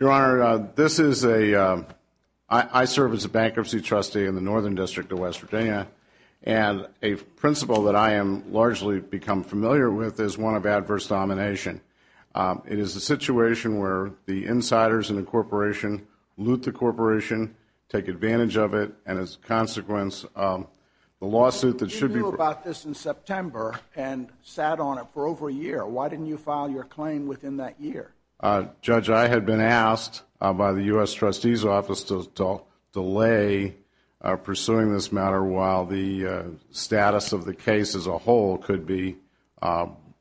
Your Honor, this is a, I serve as a bankruptcy trustee in the Northern District of West Virginia, and a principle that I have largely become familiar with is one of adverse domination. It is a situation where the insiders in the corporation loot the corporation, take advantage of it, and as a consequence, the lawsuit that should be- You knew about this in September and sat on it for over a year. Why didn't you file your claim within that year? Judge, I had been asked by the U.S. Trustee's Office to delay pursuing this matter while the status of the case as a whole could be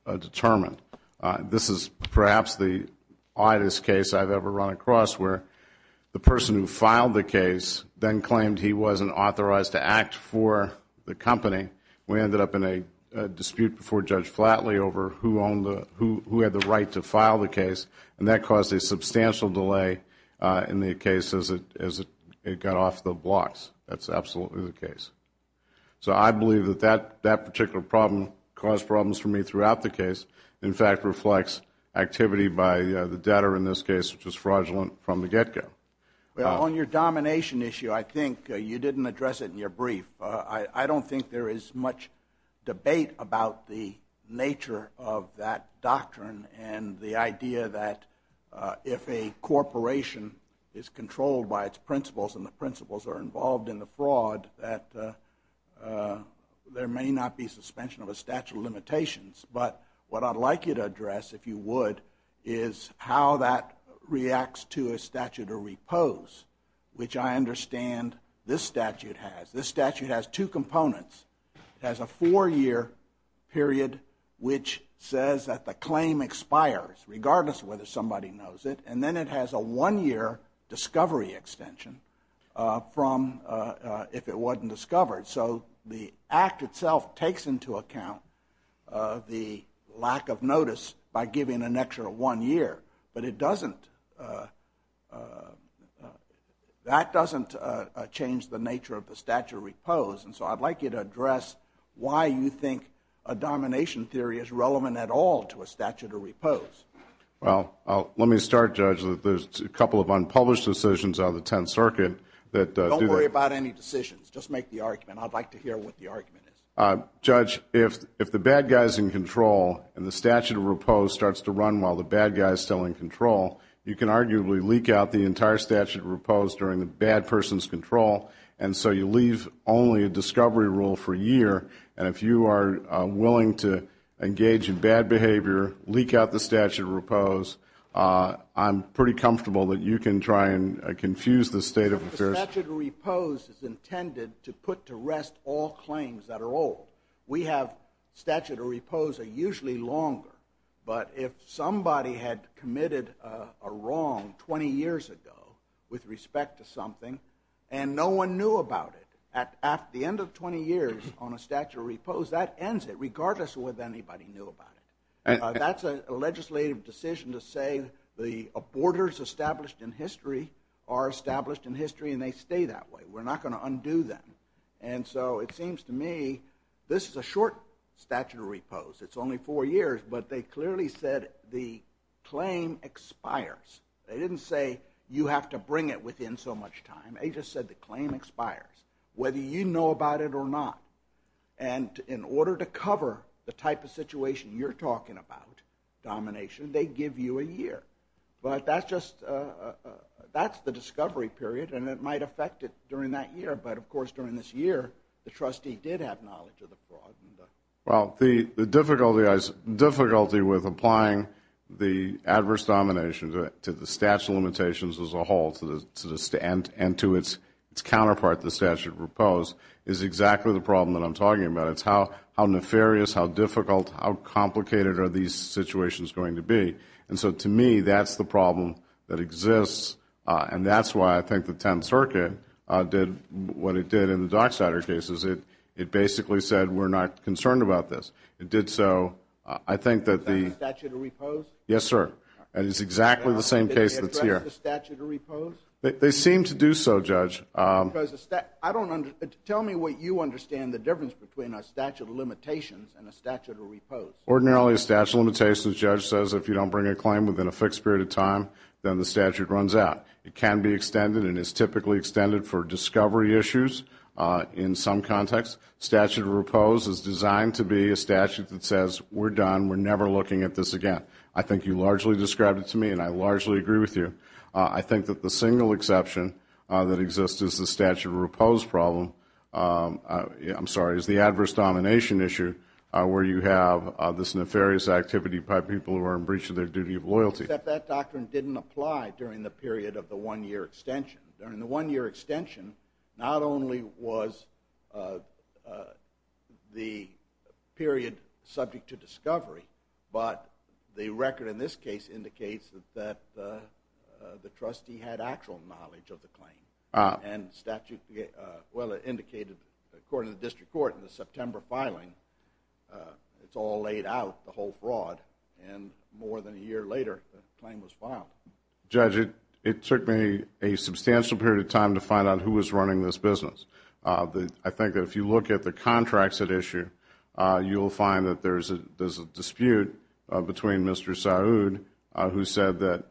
determined. This is perhaps the oddest case I've ever run across, where the person who filed the case then claimed he wasn't authorized to act for the company. We ended up in a dispute before Judge Flatley over who had the right to file the case, and that caused a substantial delay in the case as it got off the blocks. That's absolutely the case. So I believe that that particular problem caused problems for me throughout the case. In fact, it reflects activity by the debtor in this case, which was fraudulent from the get-go. Well, on your domination issue, I think you didn't address it in your brief. I don't think there is much debate about the nature of that doctrine and the idea that if a corporation is controlled by its principles and the principles are involved in the fraud, that there may not be suspension of a statute of limitations. But what I'd like you to address, if you would, is how that reacts to a statute of repose, which I understand this statute has. This statute has two components. It has a four-year period which says that the claim expires, regardless of whether somebody knows it, and then it has a one-year discovery extension from if it wasn't discovered. So the Act itself takes into account the lack of notice by giving an extra one year, but that doesn't change the nature of the statute of repose, and so I'd like you to address why you think a domination theory is relevant at all to a statute of repose. Well, let me start, Judge. There's a couple of unpublished decisions on the Tenth Circuit that do that. Don't worry about any decisions. Just make the argument. I'd like to hear what the argument is. Judge, if the bad guy is in control and the statute of repose starts to run while the bad guy is still in control, you can arguably leak out the entire statute of repose during the bad person's control, and so you leave only a discovery rule for a year, and if you are willing to engage in bad behavior, leak out the statute of repose, I'm pretty comfortable that you can try and confuse the state of affairs. The statute of repose is intended to put to rest all claims that are old. We have statute of repose that are usually longer, but if somebody had committed a wrong 20 years ago with respect to something and no one knew about it, at the end of 20 years on a statute of repose, that ends it regardless of whether anybody knew about it. That's a legislative decision to say the borders established in history are established in history, and they stay that way. We're not going to undo them, and so it seems to me this is a short statute of repose. It's only four years, but they clearly said the claim expires. They didn't say you have to bring it within so much time. They just said the claim expires whether you know about it or not, and in order to cover the type of situation you're talking about, domination, they give you a year, but that's the discovery period, and it might affect it during that year, but of course during this year the trustee did have knowledge of the fraud. Well, the difficulty with applying the adverse domination to the statute of limitations as a whole and to its counterpart, the statute of repose, is exactly the problem that I'm talking about. It's how nefarious, how difficult, how complicated are these situations going to be, and so to me that's the problem that exists, and that's why I think the Tenth Circuit did what it did in the Dockstader cases. It basically said we're not concerned about this. It did so. Is that the statute of repose? Yes, sir, and it's exactly the same case that's here. Did they address the statute of repose? They seem to do so, Judge. Tell me what you understand the difference between a statute of limitations and a statute of repose. Ordinarily a statute of limitations, the judge says, if you don't bring a claim within a fixed period of time, then the statute runs out. It can be extended and is typically extended for discovery issues in some contexts. Statute of repose is designed to be a statute that says we're done, we're never looking at this again. I think you largely described it to me, and I largely agree with you. I think that the single exception that exists is the statute of repose problem, I'm sorry, is the adverse domination issue where you have this nefarious activity by people who are in breach of their duty of loyalty. Except that doctrine didn't apply during the period of the one-year extension. During the one-year extension, not only was the period subject to discovery, but the record in this case indicates that the trustee had actual knowledge of the claim. And the statute, well, it indicated, according to the district court in the September filing, it's all laid out, the whole fraud, and more than a year later the claim was filed. Judge, it took me a substantial period of time to find out who was running this business. I think that if you look at the contracts at issue, you'll find that there's a dispute between Mr. Saud, who said that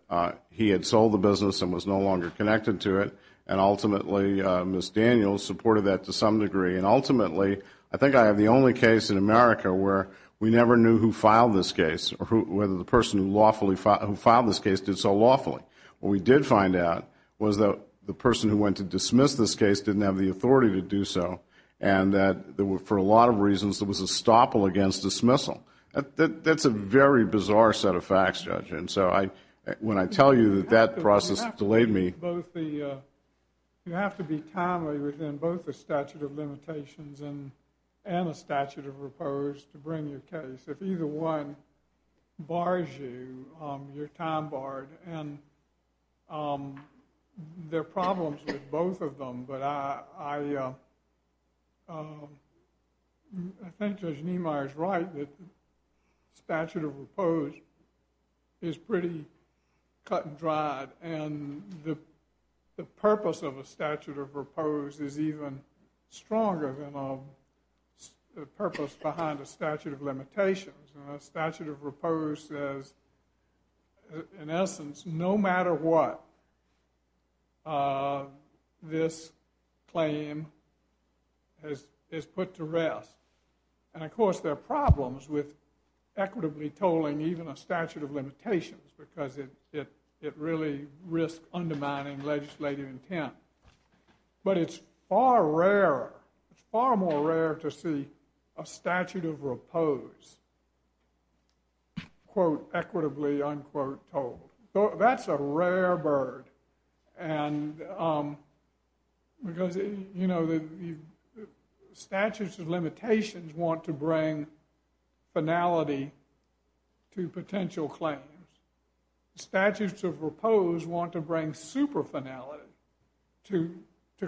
he had sold the business and was no longer connected to it, and ultimately Ms. Daniels supported that to some degree. And ultimately, I think I have the only case in America where we never knew who filed this case or whether the person who filed this case did so lawfully. What we did find out was that the person who went to dismiss this case didn't have the authority to do so, and that for a lot of reasons there was a stopple against dismissal. That's a very bizarre set of facts, Judge. When I tell you that that process delayed me. You have to be timely within both the statute of limitations and a statute of repose to bring your case. If either one bars you, you're time barred, and there are problems with both of them. But I think Judge Niemeyer is right that the statute of repose is pretty cut and dried, and the purpose of a statute of repose is even stronger than the purpose behind a statute of limitations. A statute of repose says, in essence, no matter what, this claim is put to rest. And, of course, there are problems with equitably tolling even a statute of limitations because it really risks undermining legislative intent. But it's far rarer, far more rare to see a statute of repose quote, equitably unquote tolled. That's a rare bird. And because, you know, the statutes of limitations want to bring finality to potential claims. Statutes of repose want to bring super finality to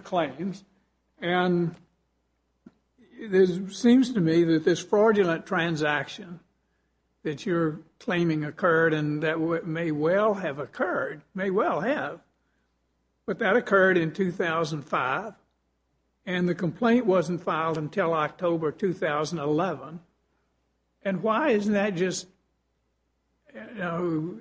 claims. And it seems to me that this fraudulent transaction that you're claiming occurred, and that may well have occurred, may well have. But that occurred in 2005, and the complaint wasn't filed until October 2011. And why isn't that just, you know,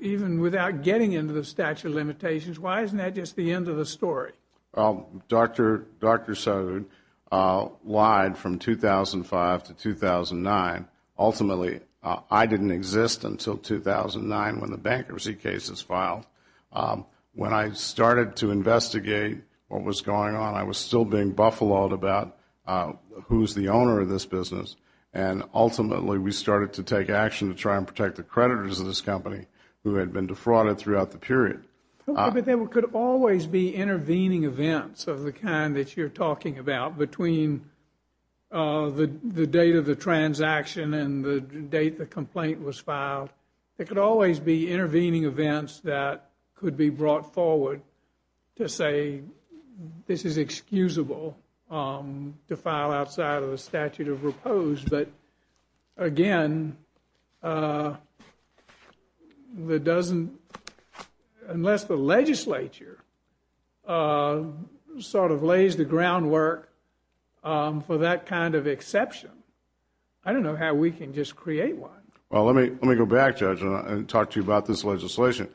even without getting into the statute of limitations, why isn't that just the end of the story? Well, Dr. Sode lied from 2005 to 2009. Ultimately, I didn't exist until 2009 when the bankruptcy case was filed. When I started to investigate what was going on, I was still being buffaloed about who's the owner of this business. And ultimately, we started to take action to try and protect the creditors of this company who had been defrauded throughout the period. But there could always be intervening events of the kind that you're talking about between the date of the transaction and the date the complaint was filed. There could always be intervening events that could be brought forward to say this is excusable to file outside of the statute of repose. But again, unless the legislature sort of lays the groundwork for that kind of exception, I don't know how we can just create one. Well, let me go back, Judge, and talk to you about this legislation.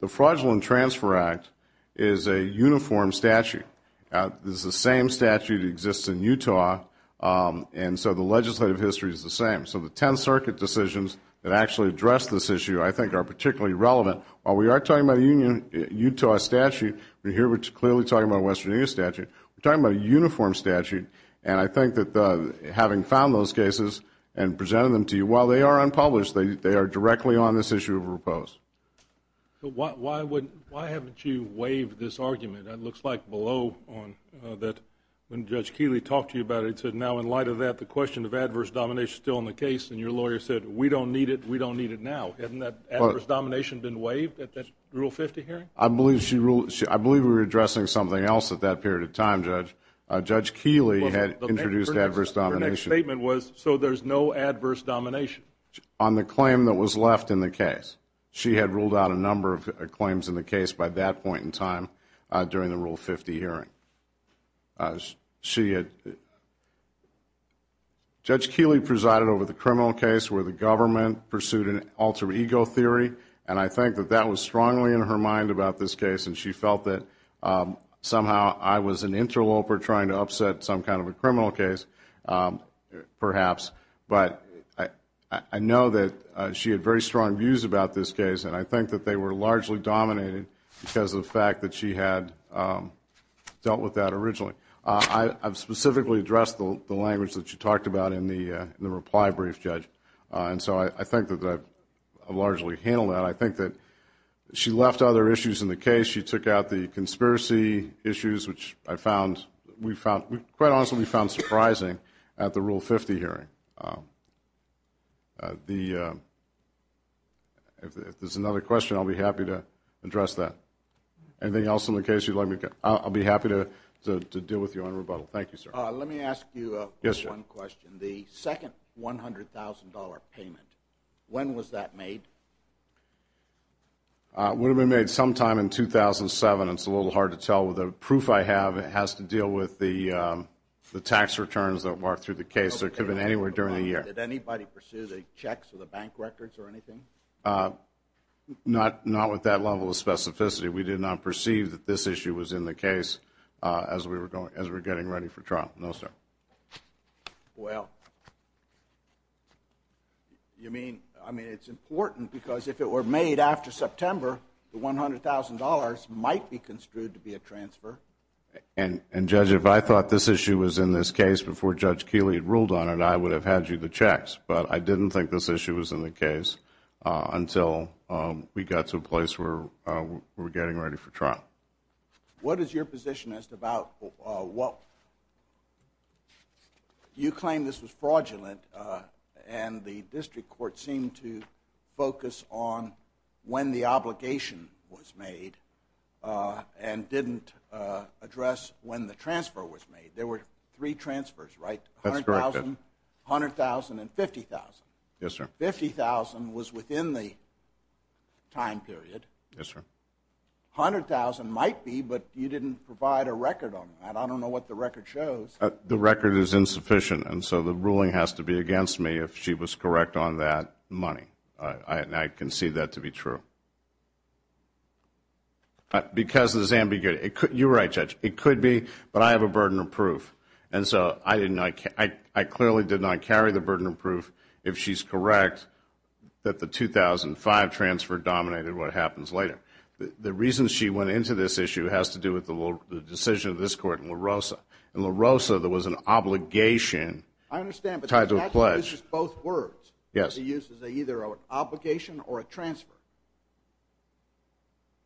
The Fraudulent Transfer Act is a uniform statute. This is the same statute that exists in Utah, and so the legislative history is the same. So the 10th Circuit decisions that actually address this issue I think are particularly relevant. While we are talking about a Utah statute, we're clearly talking about a Western Union statute. We're talking about a uniform statute, and I think that having found those cases and presented them to you, while they are unpublished, they are directly on this issue of repose. Why haven't you waived this argument? It looks like below on that when Judge Keeley talked to you about it, it said now in light of that the question of adverse domination is still in the case, and your lawyer said we don't need it, we don't need it now. Hasn't that adverse domination been waived at that Rule 50 hearing? I believe we were addressing something else at that period of time, Judge. Judge Keeley had introduced adverse domination. Her next statement was, so there's no adverse domination. On the claim that was left in the case. She had ruled out a number of claims in the case by that point in time during the Rule 50 hearing. Judge Keeley presided over the criminal case where the government pursued an alter ego theory, and I think that that was strongly in her mind about this case, and she felt that somehow I was an interloper trying to upset some kind of a criminal case, perhaps. But I know that she had very strong views about this case, and I think that they were largely dominated because of the fact that she had dealt with that originally. I've specifically addressed the language that she talked about in the reply brief, Judge, and so I think that I've largely handled that. But I think that she left other issues in the case. She took out the conspiracy issues, which I found, quite honestly, we found surprising at the Rule 50 hearing. If there's another question, I'll be happy to address that. Anything else in the case you'd like me to get? I'll be happy to deal with you on rebuttal. Thank you, sir. Let me ask you one question. The second $100,000 payment, when was that made? It would have been made sometime in 2007. It's a little hard to tell with the proof I have. It has to deal with the tax returns that work through the case. It could have been anywhere during the year. Did anybody pursue the checks or the bank records or anything? Not with that level of specificity. We did not perceive that this issue was in the case as we were getting ready for trial. No, sir. Well, you mean, I mean, it's important because if it were made after September, the $100,000 might be construed to be a transfer. And, Judge, if I thought this issue was in this case before Judge Keeley had ruled on it, I would have had you the checks. But I didn't think this issue was in the case until we got to a place where we were getting ready for trial. What is your position as to about what you claim this was fraudulent and the district court seemed to focus on when the obligation was made and didn't address when the transfer was made? There were three transfers, right? That's correct. $100,000, $100,000, and $50,000. Yes, sir. $50,000 was within the time period. Yes, sir. $100,000 might be, but you didn't provide a record on that. I don't know what the record shows. The record is insufficient, and so the ruling has to be against me if she was correct on that money. I concede that to be true. Because it's ambiguity. You're right, Judge. It could be, but I have a burden of proof. And so I clearly did not carry the burden of proof if she's correct that the 2005 transfer dominated what happens later. The reason she went into this issue has to do with the decision of this court in La Rosa. In La Rosa, there was an obligation tied to a pledge. I understand, but the statute uses both words. Yes. It uses either an obligation or a transfer.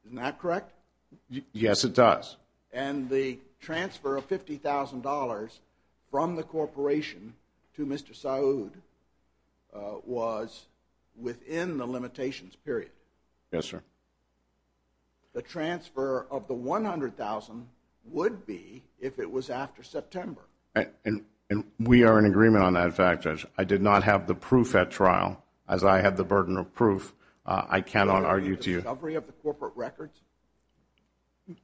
Isn't that correct? Yes, it does. And the transfer of $50,000 from the corporation to Mr. Saud was within the limitations period. Yes, sir. The transfer of the $100,000 would be if it was after September. And we are in agreement on that fact, Judge. I did not have the proof at trial. As I have the burden of proof, I cannot argue to you. Was it in the discovery of the corporate records?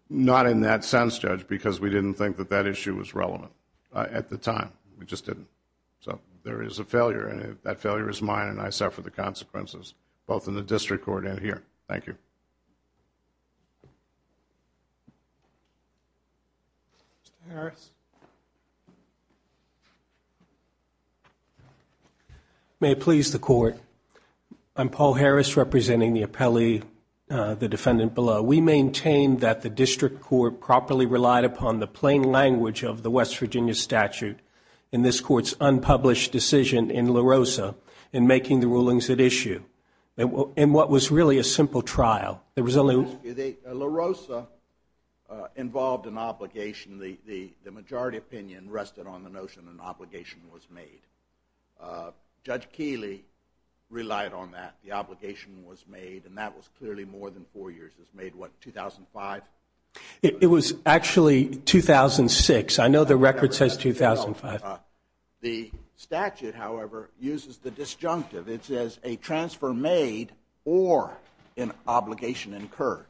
Not in that sense, Judge, because we didn't think that that issue was relevant at the time. We just didn't. So there is a failure, and that failure is mine, and I suffer the consequences, both in the district court and here. Thank you. Mr. Harris? May it please the Court, I'm Paul Harris representing the appellee, the defendant below. We maintain that the district court properly relied upon the plain language of the West Virginia statute in this Court's unpublished decision in La Rosa in making the rulings at issue in what was really a simple trial. La Rosa involved an obligation. The majority opinion rested on the notion an obligation was made. Judge Keeley relied on that. The obligation was made, and that was clearly more than four years. It was made, what, 2005? It was actually 2006. I know the record says 2005. The statute, however, uses the disjunctive. It says a transfer made or an obligation incurred.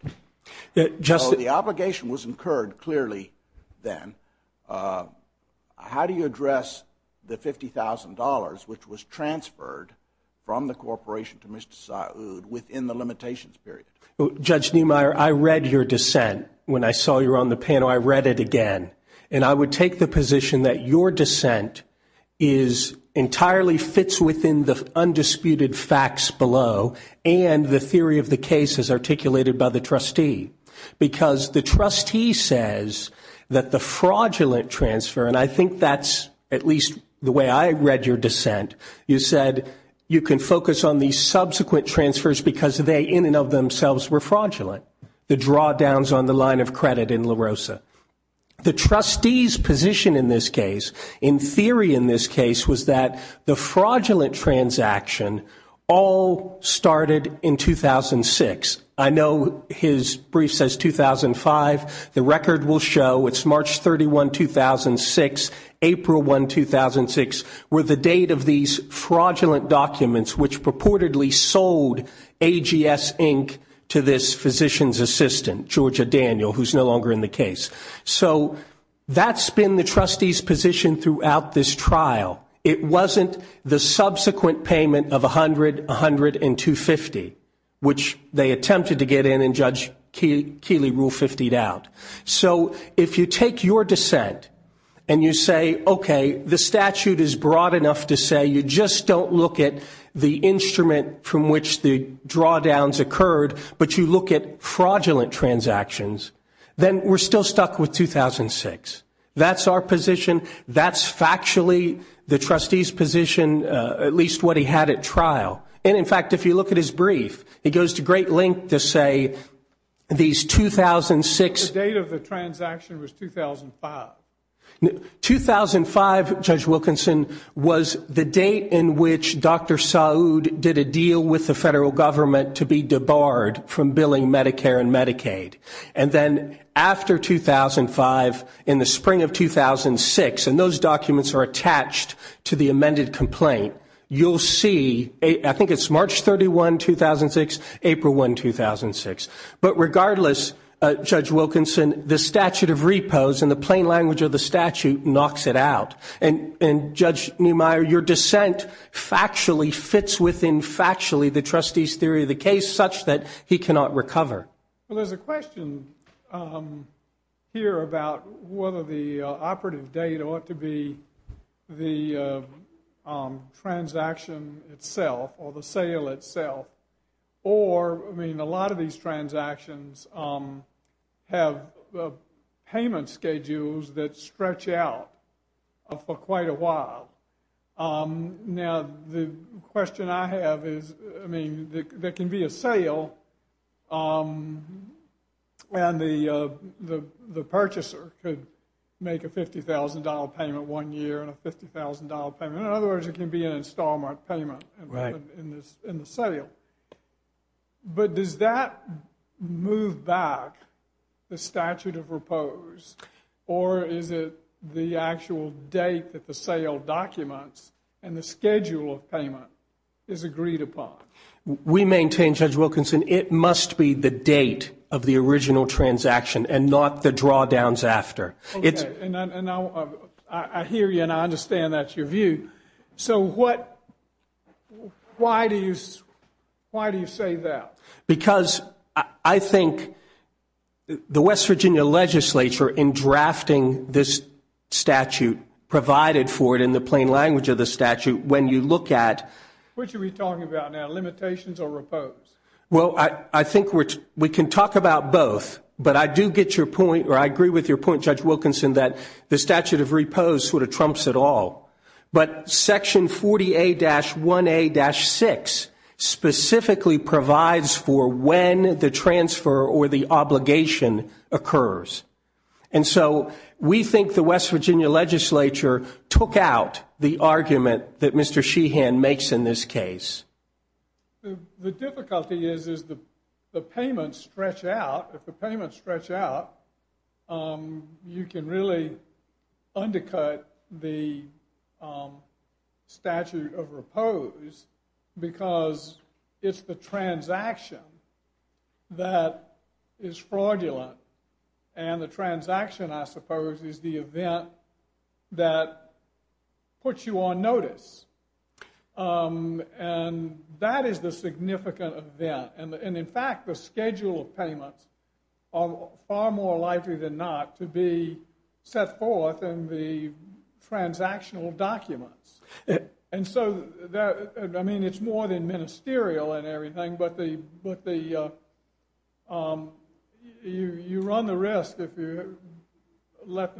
So the obligation was incurred clearly then. How do you address the $50,000 which was transferred from the corporation to Mr. Saud within the limitations period? Judge Neumeier, I read your dissent when I saw you on the panel. I read it again, and I would take the position that your dissent entirely fits within the undisputed facts below and the theory of the case as articulated by the trustee because the trustee says that the fraudulent transfer, and I think that's at least the way I read your dissent. You said you can focus on the subsequent transfers because they in and of themselves were fraudulent, the drawdowns on the line of credit in La Rosa. The trustee's position in this case, in theory in this case, was that the fraudulent transaction all started in 2006. I know his brief says 2005. The record will show it's March 31, 2006, April 1, 2006, were the date of these fraudulent documents which purportedly sold AGS, Inc. to this physician's assistant, Georgia Daniel, who's no longer in the case. So that's been the trustee's position throughout this trial. It wasn't the subsequent payment of $100, $100, and $250, which they attempted to get in and Judge Keeley ruled $50 out. So if you take your dissent and you say, okay, the statute is broad enough to say you just don't look at the instrument from which the drawdowns occurred, but you look at fraudulent transactions, then we're still stuck with 2006. That's our position. That's factually the trustee's position, at least what he had at trial. And, in fact, if you look at his brief, it goes to great length to say these 2006 The date of the transaction was 2005. 2005, Judge Wilkinson, was the date in which Dr. Saud did a deal with the federal government to be debarred from billing Medicare and Medicaid. And then after 2005, in the spring of 2006, and those documents are attached to the amended complaint, you'll see, I think it's March 31, 2006, April 1, 2006. But regardless, Judge Wilkinson, the statute of repos and the plain language of the statute knocks it out. And, Judge Neumeier, your dissent factually fits within factually the trustee's theory of the case such that he cannot recover. Well, there's a question here about whether the operative date ought to be the transaction itself or the sale itself or, I mean, a lot of these transactions have payment schedules that stretch out for quite a while. Now, the question I have is, I mean, there can be a sale and the purchaser could make a $50,000 payment one year and a $50,000 payment. In other words, it can be an installment payment in the sale. But does that move back the statute of repos or is it the actual date that the sale documents and the schedule of payment is agreed upon? We maintain, Judge Wilkinson, it must be the date of the original transaction and not the drawdowns after. Okay, and I hear you and I understand that's your view. So why do you say that? Because I think the West Virginia legislature in drafting this statute provided for it in the plain language of the statute when you look at Which are we talking about now, limitations or repos? Well, I think we can talk about both. But I do get your point, or I agree with your point, Judge Wilkinson, that the statute of repos sort of trumps it all. But Section 40A-1A-6 specifically provides for when the transfer or the obligation occurs. And so we think the West Virginia legislature took out the argument that Mr. Sheehan makes in this case. The difficulty is the payments stretch out. If the payments stretch out, you can really undercut the statute of repos because it's the transaction that is fraudulent. And the transaction, I suppose, is the event that puts you on notice. And that is the significant event. And, in fact, the schedule of payments are far more likely than not to be set forth in the transactional documents. And so, I mean, it's more than ministerial and everything, but you run the risk if you let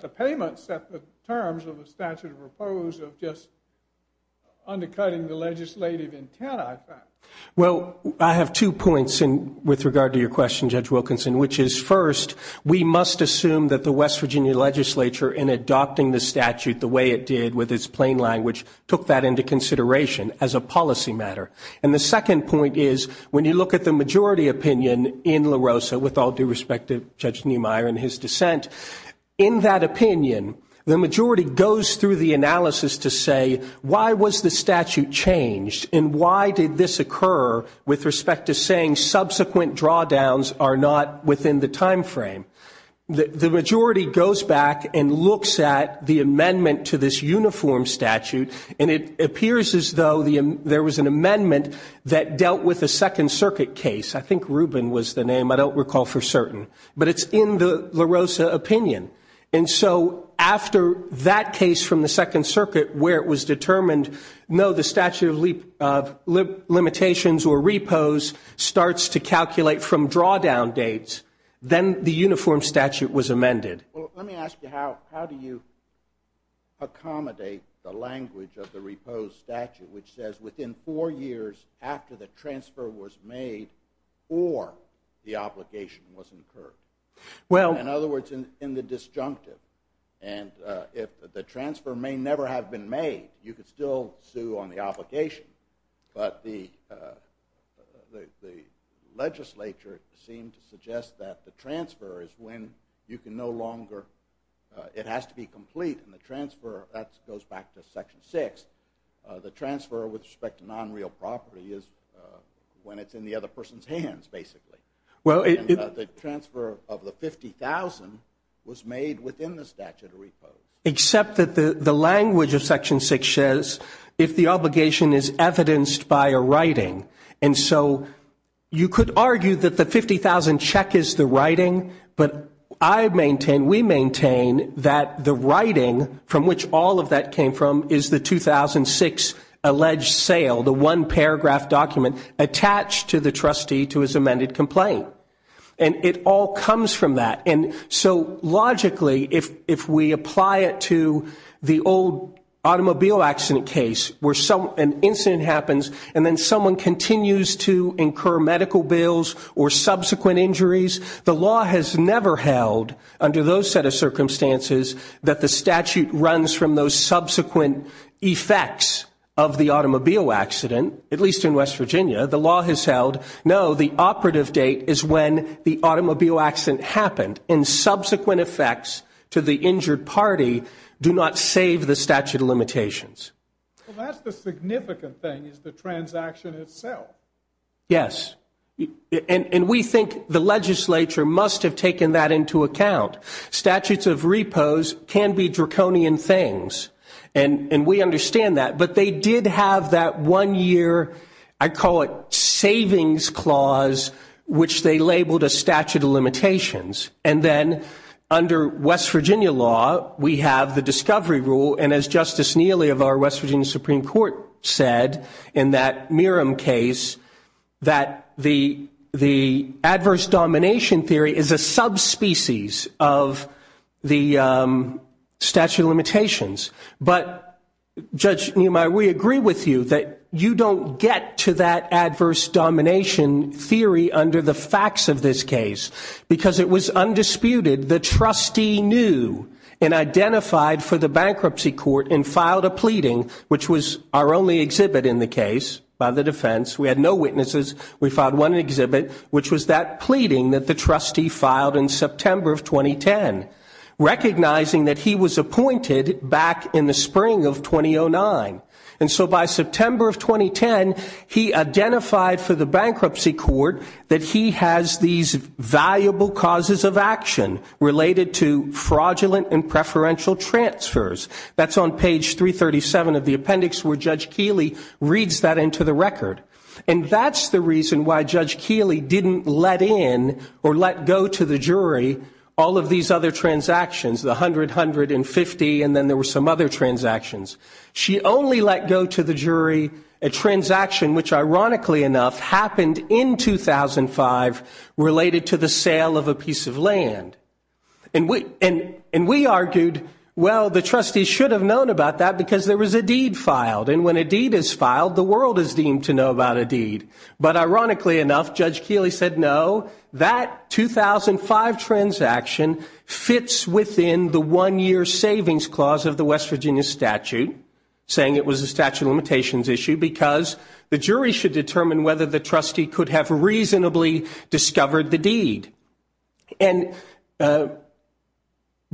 the payments set the terms of the statute of repos of just undercutting the legislative intent, I think. Well, I have two points with regard to your question, Judge Wilkinson, which is, first, we must assume that the West Virginia legislature, in adopting the statute the way it did with its plain language, took that into consideration as a policy matter. And the second point is, when you look at the majority opinion in La Rosa, with all due respect to Judge Neumeier and his dissent, in that opinion, the majority goes through the analysis to say, why was the statute changed and why did this occur with respect to saying subsequent drawdowns are not within the time frame? The majority goes back and looks at the amendment to this uniform statute, and it appears as though there was an amendment that dealt with a Second Circuit case. I think Rubin was the name. I don't recall for certain. But it's in the La Rosa opinion. And so after that case from the Second Circuit, where it was determined, no, the statute of limitations or repos starts to calculate from drawdown dates, then the uniform statute was amended. Well, let me ask you, how do you accommodate the language of the repos statute, which says within four years after the transfer was made, or the obligation was incurred? In other words, in the disjunctive. And the transfer may never have been made. You could still sue on the obligation. But the legislature seemed to suggest that the transfer is when you can no longer, it has to be complete, and the transfer, that goes back to Section 6, the transfer with respect to non-real property is when it's in the other person's hands, basically. The transfer of the $50,000 was made within the statute of repos. Except that the language of Section 6 says, if the obligation is evidenced by a writing. And so you could argue that the $50,000 check is the writing, but I maintain, we maintain, that the writing from which all of that came from is the 2006 alleged sale, the one paragraph document attached to the trustee to his amended complaint. And it all comes from that. And so logically, if we apply it to the old automobile accident case, where an incident happens, and then someone continues to incur medical bills or subsequent injuries, the law has never held, under those set of circumstances, that the statute runs from those subsequent effects of the automobile accident, at least in West Virginia. The law has held, no, the operative date is when the automobile accident happened, and subsequent effects to the injured party do not save the statute of limitations. Well, that's the significant thing, is the transaction itself. Yes. And we think the legislature must have taken that into account. Statutes of repose can be draconian things, and we understand that. But they did have that one-year, I call it, savings clause, which they labeled a statute of limitations. And then under West Virginia law, we have the discovery rule, and as Justice Neely of our West Virginia Supreme Court said in that Merrim case, that the adverse domination theory is a subspecies of the statute of limitations. But, Judge Neumeyer, we agree with you that you don't get to that adverse domination theory under the facts of this case, because it was undisputed. The trustee knew and identified for the bankruptcy court and filed a pleading, which was our only exhibit in the case, by the defense. We had no witnesses. We filed one exhibit, which was that pleading that the trustee filed in September of 2010, recognizing that he was appointed back in the spring of 2009. And so by September of 2010, he identified for the bankruptcy court that he has these valuable causes of action related to fraudulent and preferential transfers. That's on page 337 of the appendix where Judge Keeley reads that into the record. And that's the reason why Judge Keeley didn't let in or let go to the jury all of these other transactions, the $100, $150, and then there were some other transactions. She only let go to the jury a transaction which, ironically enough, happened in 2005 related to the sale of a piece of land. And we argued, well, the trustee should have known about that because there was a deed filed. And when a deed is filed, the world is deemed to know about a deed. But ironically enough, Judge Keeley said, no, that 2005 transaction fits within the one-year savings clause of the West Virginia statute, saying it was a statute of limitations issue, because the jury should determine whether the trustee could have reasonably discovered the deed. And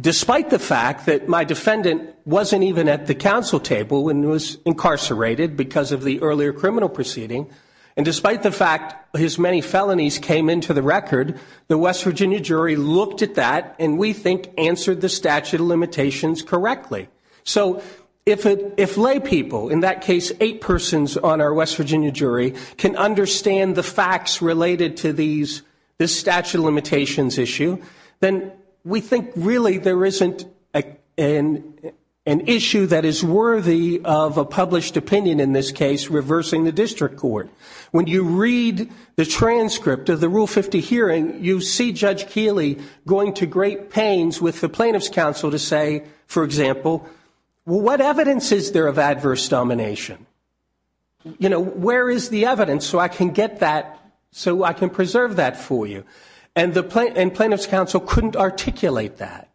despite the fact that my defendant wasn't even at the council table when he was incarcerated because of the earlier criminal proceeding, and despite the fact his many felonies came into the record, the West Virginia jury looked at that and, we think, answered the statute of limitations correctly. So if laypeople, in that case eight persons on our West Virginia jury, can understand the facts related to this statute of limitations issue, then we think, really, there isn't an issue that is worthy of a published opinion in this case reversing the district court. When you read the transcript of the Rule 50 hearing, you see Judge Keeley going to great pains with the plaintiff's counsel to say, for example, what evidence is there of adverse domination? You know, where is the evidence so I can get that, so I can preserve that for you? And the plaintiff's counsel couldn't articulate that.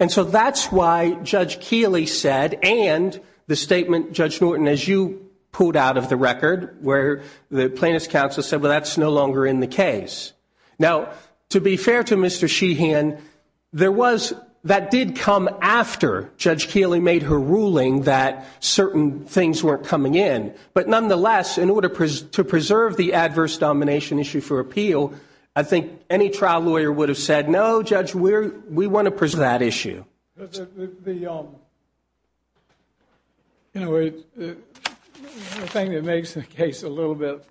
And so that's why Judge Keeley said, and the statement Judge Norton, as you pulled out of the record, where the plaintiff's counsel said, well, that's no longer in the case. Now, to be fair to Mr. Sheehan, that did come after Judge Keeley made her ruling that certain things weren't coming in. But nonetheless, in order to preserve the adverse domination issue for appeal, I think any trial lawyer would have said, no, Judge, we want to preserve that issue. The thing that makes the case a little bit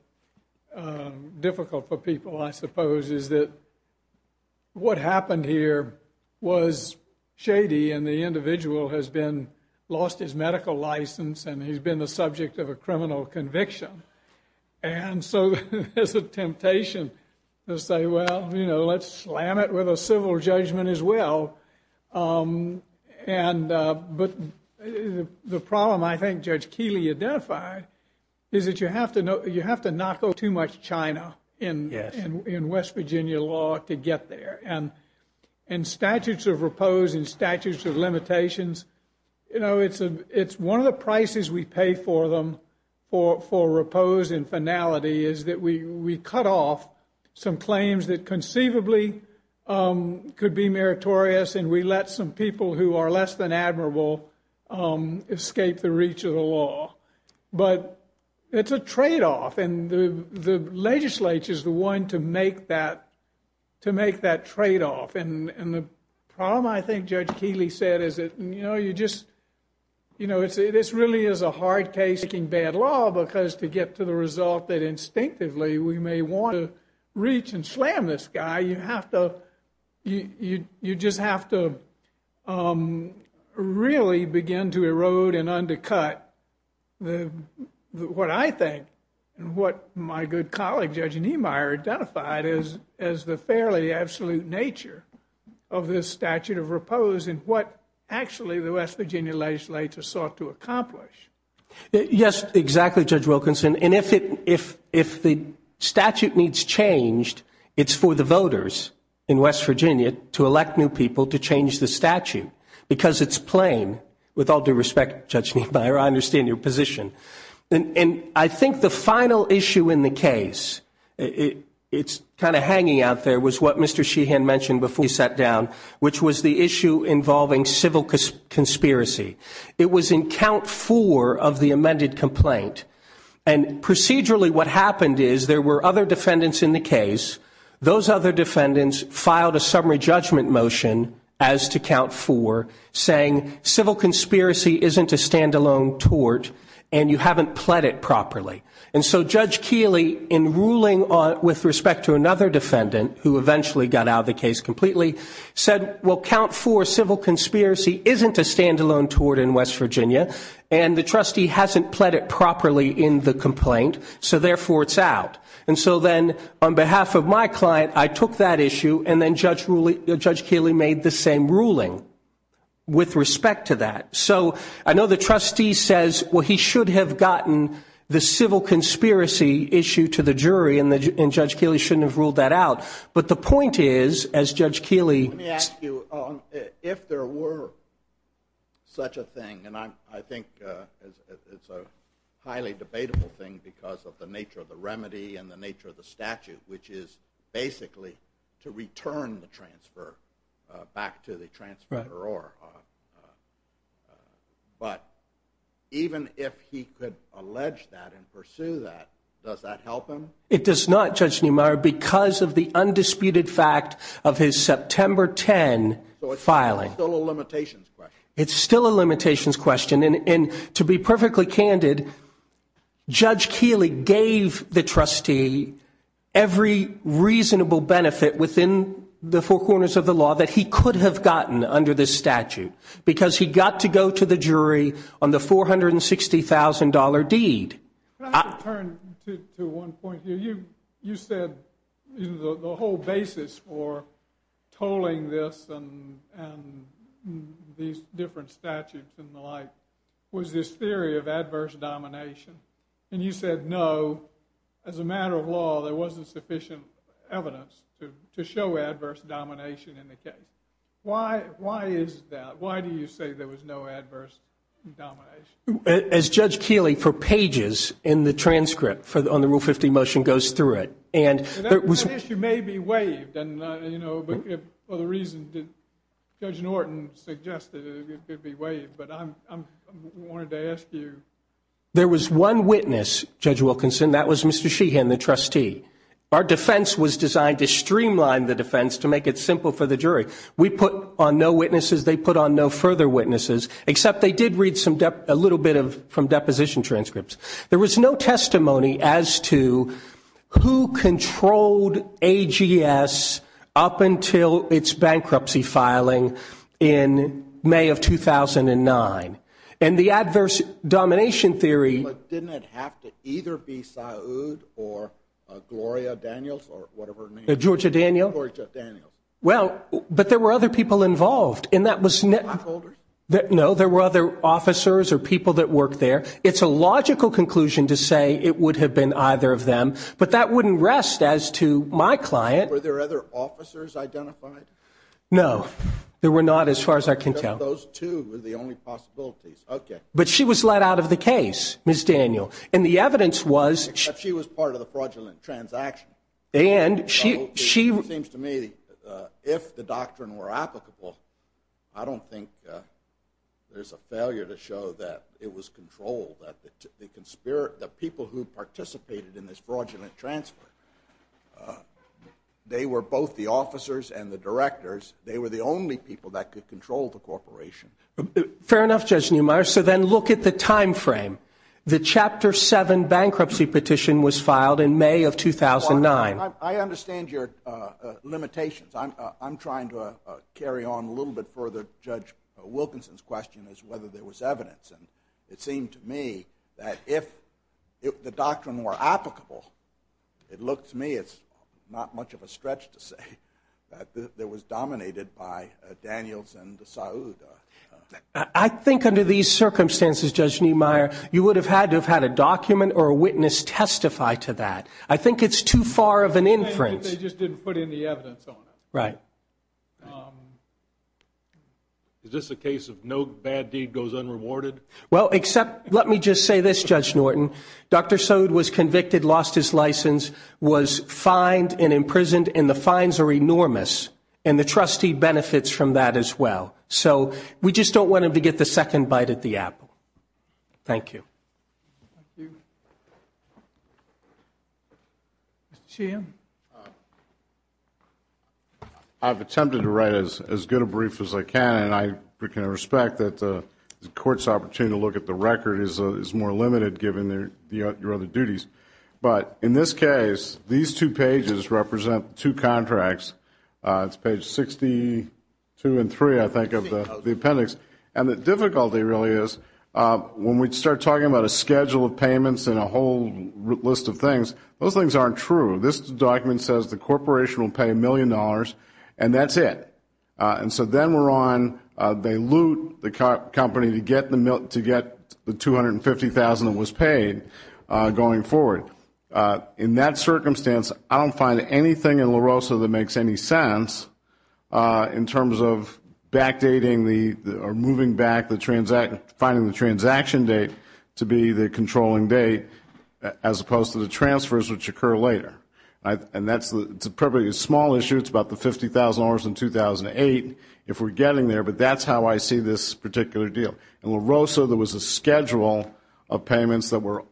difficult for people, I suppose, is that what happened here was shady, and the individual has lost his medical license, and he's been the subject of a criminal conviction. And so there's a temptation to say, well, let's slam it with a civil judgment as well. But the problem I think Judge Keeley identified is that you have to not go too much China in West Virginia law to get there. And in statutes of repose and statutes of limitations, it's one of the prices we pay for them, for repose and finality, is that we cut off some claims that conceivably could be meritorious, and we let some people who are less than admirable escape the reach of the law. But it's a tradeoff, and the legislature is the one to make that tradeoff. And the problem I think Judge Keeley said is that this really is a hard case in bad law because to get to the result that instinctively we may want to reach and slam this guy, you just have to really begin to erode and undercut what I think and what my good colleague Judge Niemeyer identified as the fairly absolute nature of this statute of repose and what actually the West Virginia legislature sought to accomplish. Yes, exactly, Judge Wilkinson. And if the statute needs changed, it's for the voters in West Virginia to elect new people to change the statute because it's plain. With all due respect, Judge Niemeyer, I understand your position. And I think the final issue in the case, it's kind of hanging out there, was what Mr. Sheehan mentioned before he sat down, which was the issue involving civil conspiracy. It was in count four of the amended complaint. And procedurally what happened is there were other defendants in the case. Those other defendants filed a summary judgment motion as to count four, saying civil conspiracy isn't a standalone tort and you haven't pled it properly. And so Judge Keeley, in ruling with respect to another defendant, who eventually got out of the case completely, said, well, count four civil conspiracy isn't a standalone tort in West Virginia, and the trustee hasn't pled it properly in the complaint, so therefore it's out. And so then on behalf of my client, I took that issue, and then Judge Keeley made the same ruling with respect to that. So I know the trustee says, well, he should have gotten the civil conspiracy issue to the jury, and Judge Keeley shouldn't have ruled that out. But the point is, as Judge Keeley- Let me ask you, if there were such a thing, and I think it's a highly debatable thing because of the nature of the remedy and the nature of the statute, which is basically to return the transfer back to the transferor. But even if he could allege that and pursue that, does that help him? It does not, Judge Neumeier, because of the undisputed fact of his September 10 filing. So it's still a limitations question. It's still a limitations question. And to be perfectly candid, Judge Keeley gave the trustee every reasonable benefit within the four corners of the law that he could have gotten under this statute because he got to go to the jury on the $460,000 deed. But I have to turn to one point here. You said the whole basis for tolling this and these different statutes and the like was this theory of adverse domination. And you said, no, as a matter of law, there wasn't sufficient evidence to show adverse domination in the case. Why is that? Why do you say there was no adverse domination? As Judge Keeley, for pages in the transcript on the Rule 50 motion, goes through it. And that issue may be waived. But the reason Judge Norton suggested it could be waived. But I wanted to ask you. There was one witness, Judge Wilkinson, and that was Mr. Sheehan, the trustee. Our defense was designed to streamline the defense to make it simple for the jury. We put on no witnesses. They put on no further witnesses. Except they did read a little bit from deposition transcripts. There was no testimony as to who controlled AGS up until its bankruptcy filing in May of 2009. And the adverse domination theory. But didn't it have to either be Saud or Gloria Daniels or whatever her name was? Georgia Daniels? Georgia Daniels. Well, but there were other people involved. Blackholders? No, there were other officers or people that worked there. It's a logical conclusion to say it would have been either of them. But that wouldn't rest as to my client. Were there other officers identified? No. There were not as far as I can tell. Those two were the only possibilities. Okay. But she was let out of the case, Ms. Daniels. And the evidence was. Except she was part of the fraudulent transaction. It seems to me, if the doctrine were applicable, I don't think there's a failure to show that it was controlled. That the people who participated in this fraudulent transfer, they were both the officers and the directors. They were the only people that could control the corporation. Fair enough, Judge Neumeier. So then look at the time frame. The Chapter 7 bankruptcy petition was filed in May of 2009. I understand your limitations. I'm trying to carry on a little bit further Judge Wilkinson's question as to whether there was evidence. And it seemed to me that if the doctrine were applicable, it looked to me it's not much of a stretch to say that it was dominated by Daniels and Saud. I think under these circumstances, Judge Neumeier, you would have had to have had a document or a witness testify to that. I think it's too far of an inference. They just didn't put any evidence on it. Right. Is this a case of no bad deed goes unrewarded? Well, except let me just say this, Judge Norton. Dr. Saud was convicted, lost his license, was fined and imprisoned. And the fines are enormous. And the trustee benefits from that as well. So we just don't want him to get the second bite at the apple. Thank you. Mr. Sheehan. I've attempted to write as good a brief as I can. And I can respect that the Court's opportunity to look at the record is more limited given your other duties. But in this case, these two pages represent two contracts. It's page 62 and 3, I think, of the appendix. And the difficulty really is when we start talking about a schedule of payments and a whole list of things, those things aren't true. This document says the corporation will pay $1 million, and that's it. And so then we're on they loot the company to get the $250,000 that was paid going forward. In that circumstance, I don't find anything in La Rosa that makes any sense in terms of backdating the or moving back the finding the transaction date to be the controlling date as opposed to the transfers which occur later. And that's probably a small issue. It's about the $50,000 in 2008 if we're getting there. But that's how I see this particular deal. In La Rosa, there was a schedule of payments that were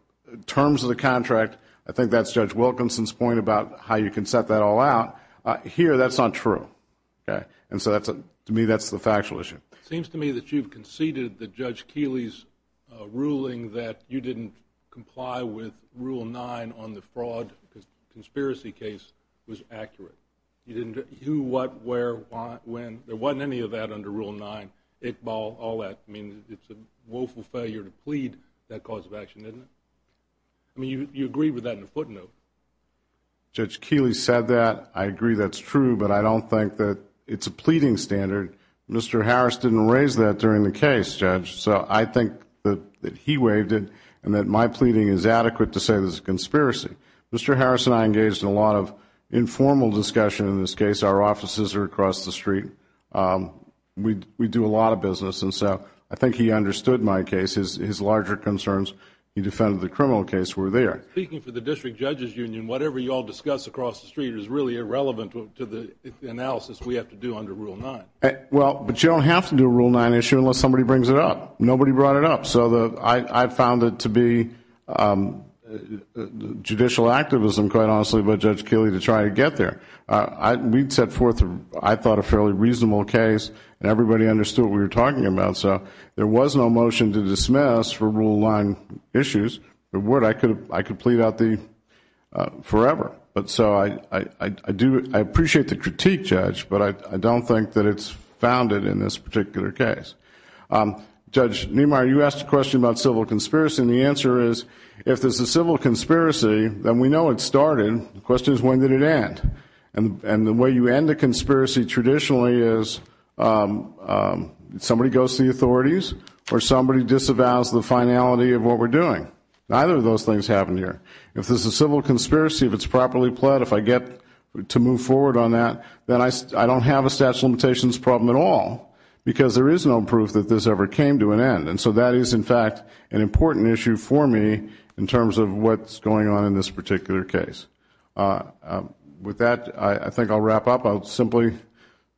terms of the contract. I think that's Judge Wilkinson's point about how you can set that all out. Here, that's not true. And so to me, that's the factual issue. It seems to me that you've conceded that Judge Keeley's ruling that you didn't comply with Rule 9 on the fraud conspiracy case was accurate. You didn't do what, where, when. There wasn't any of that under Rule 9. I mean, it's a woeful failure to plead that cause of action, isn't it? I mean, you agree with that in a footnote. Judge Keeley said that. I agree that's true, but I don't think that it's a pleading standard. Mr. Harris didn't raise that during the case, Judge, so I think that he waived it and that my pleading is adequate to say this is a conspiracy. Mr. Harris and I engaged in a lot of informal discussion in this case. Our offices are across the street. We do a lot of business, and so I think he understood my case. His larger concerns, he defended the criminal case, were there. Speaking for the District Judge's Union, whatever you all discuss across the street is really irrelevant to the analysis we have to do under Rule 9. Well, but you don't have to do a Rule 9 issue unless somebody brings it up. Nobody brought it up, so I found it to be judicial activism, quite honestly, by Judge Keeley to try to get there. We'd set forth, I thought, a fairly reasonable case, and everybody understood what we were talking about. So there was no motion to dismiss for Rule 9 issues. If there were, I could plead out the forever. So I appreciate the critique, Judge, but I don't think that it's founded in this particular case. Judge Niemeyer, you asked a question about civil conspiracy, and the answer is if this is a civil conspiracy, then we know it started. The question is, when did it end? And the way you end a conspiracy traditionally is somebody goes to the authorities or somebody disavows the finality of what we're doing. Neither of those things happen here. If this is a civil conspiracy, if it's properly pled, if I get to move forward on that, then I don't have a statute of limitations problem at all because there is no proof that this ever came to an end. And so that is, in fact, an important issue for me in terms of what's going on in this particular case. With that, I think I'll wrap up. I'll simply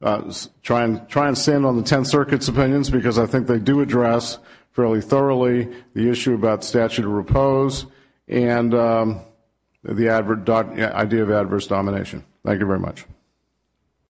try and stand on the Tenth Circuit's opinions because I think they do address fairly thoroughly the issue about statute of repose and the idea of adverse domination. Thank you very much.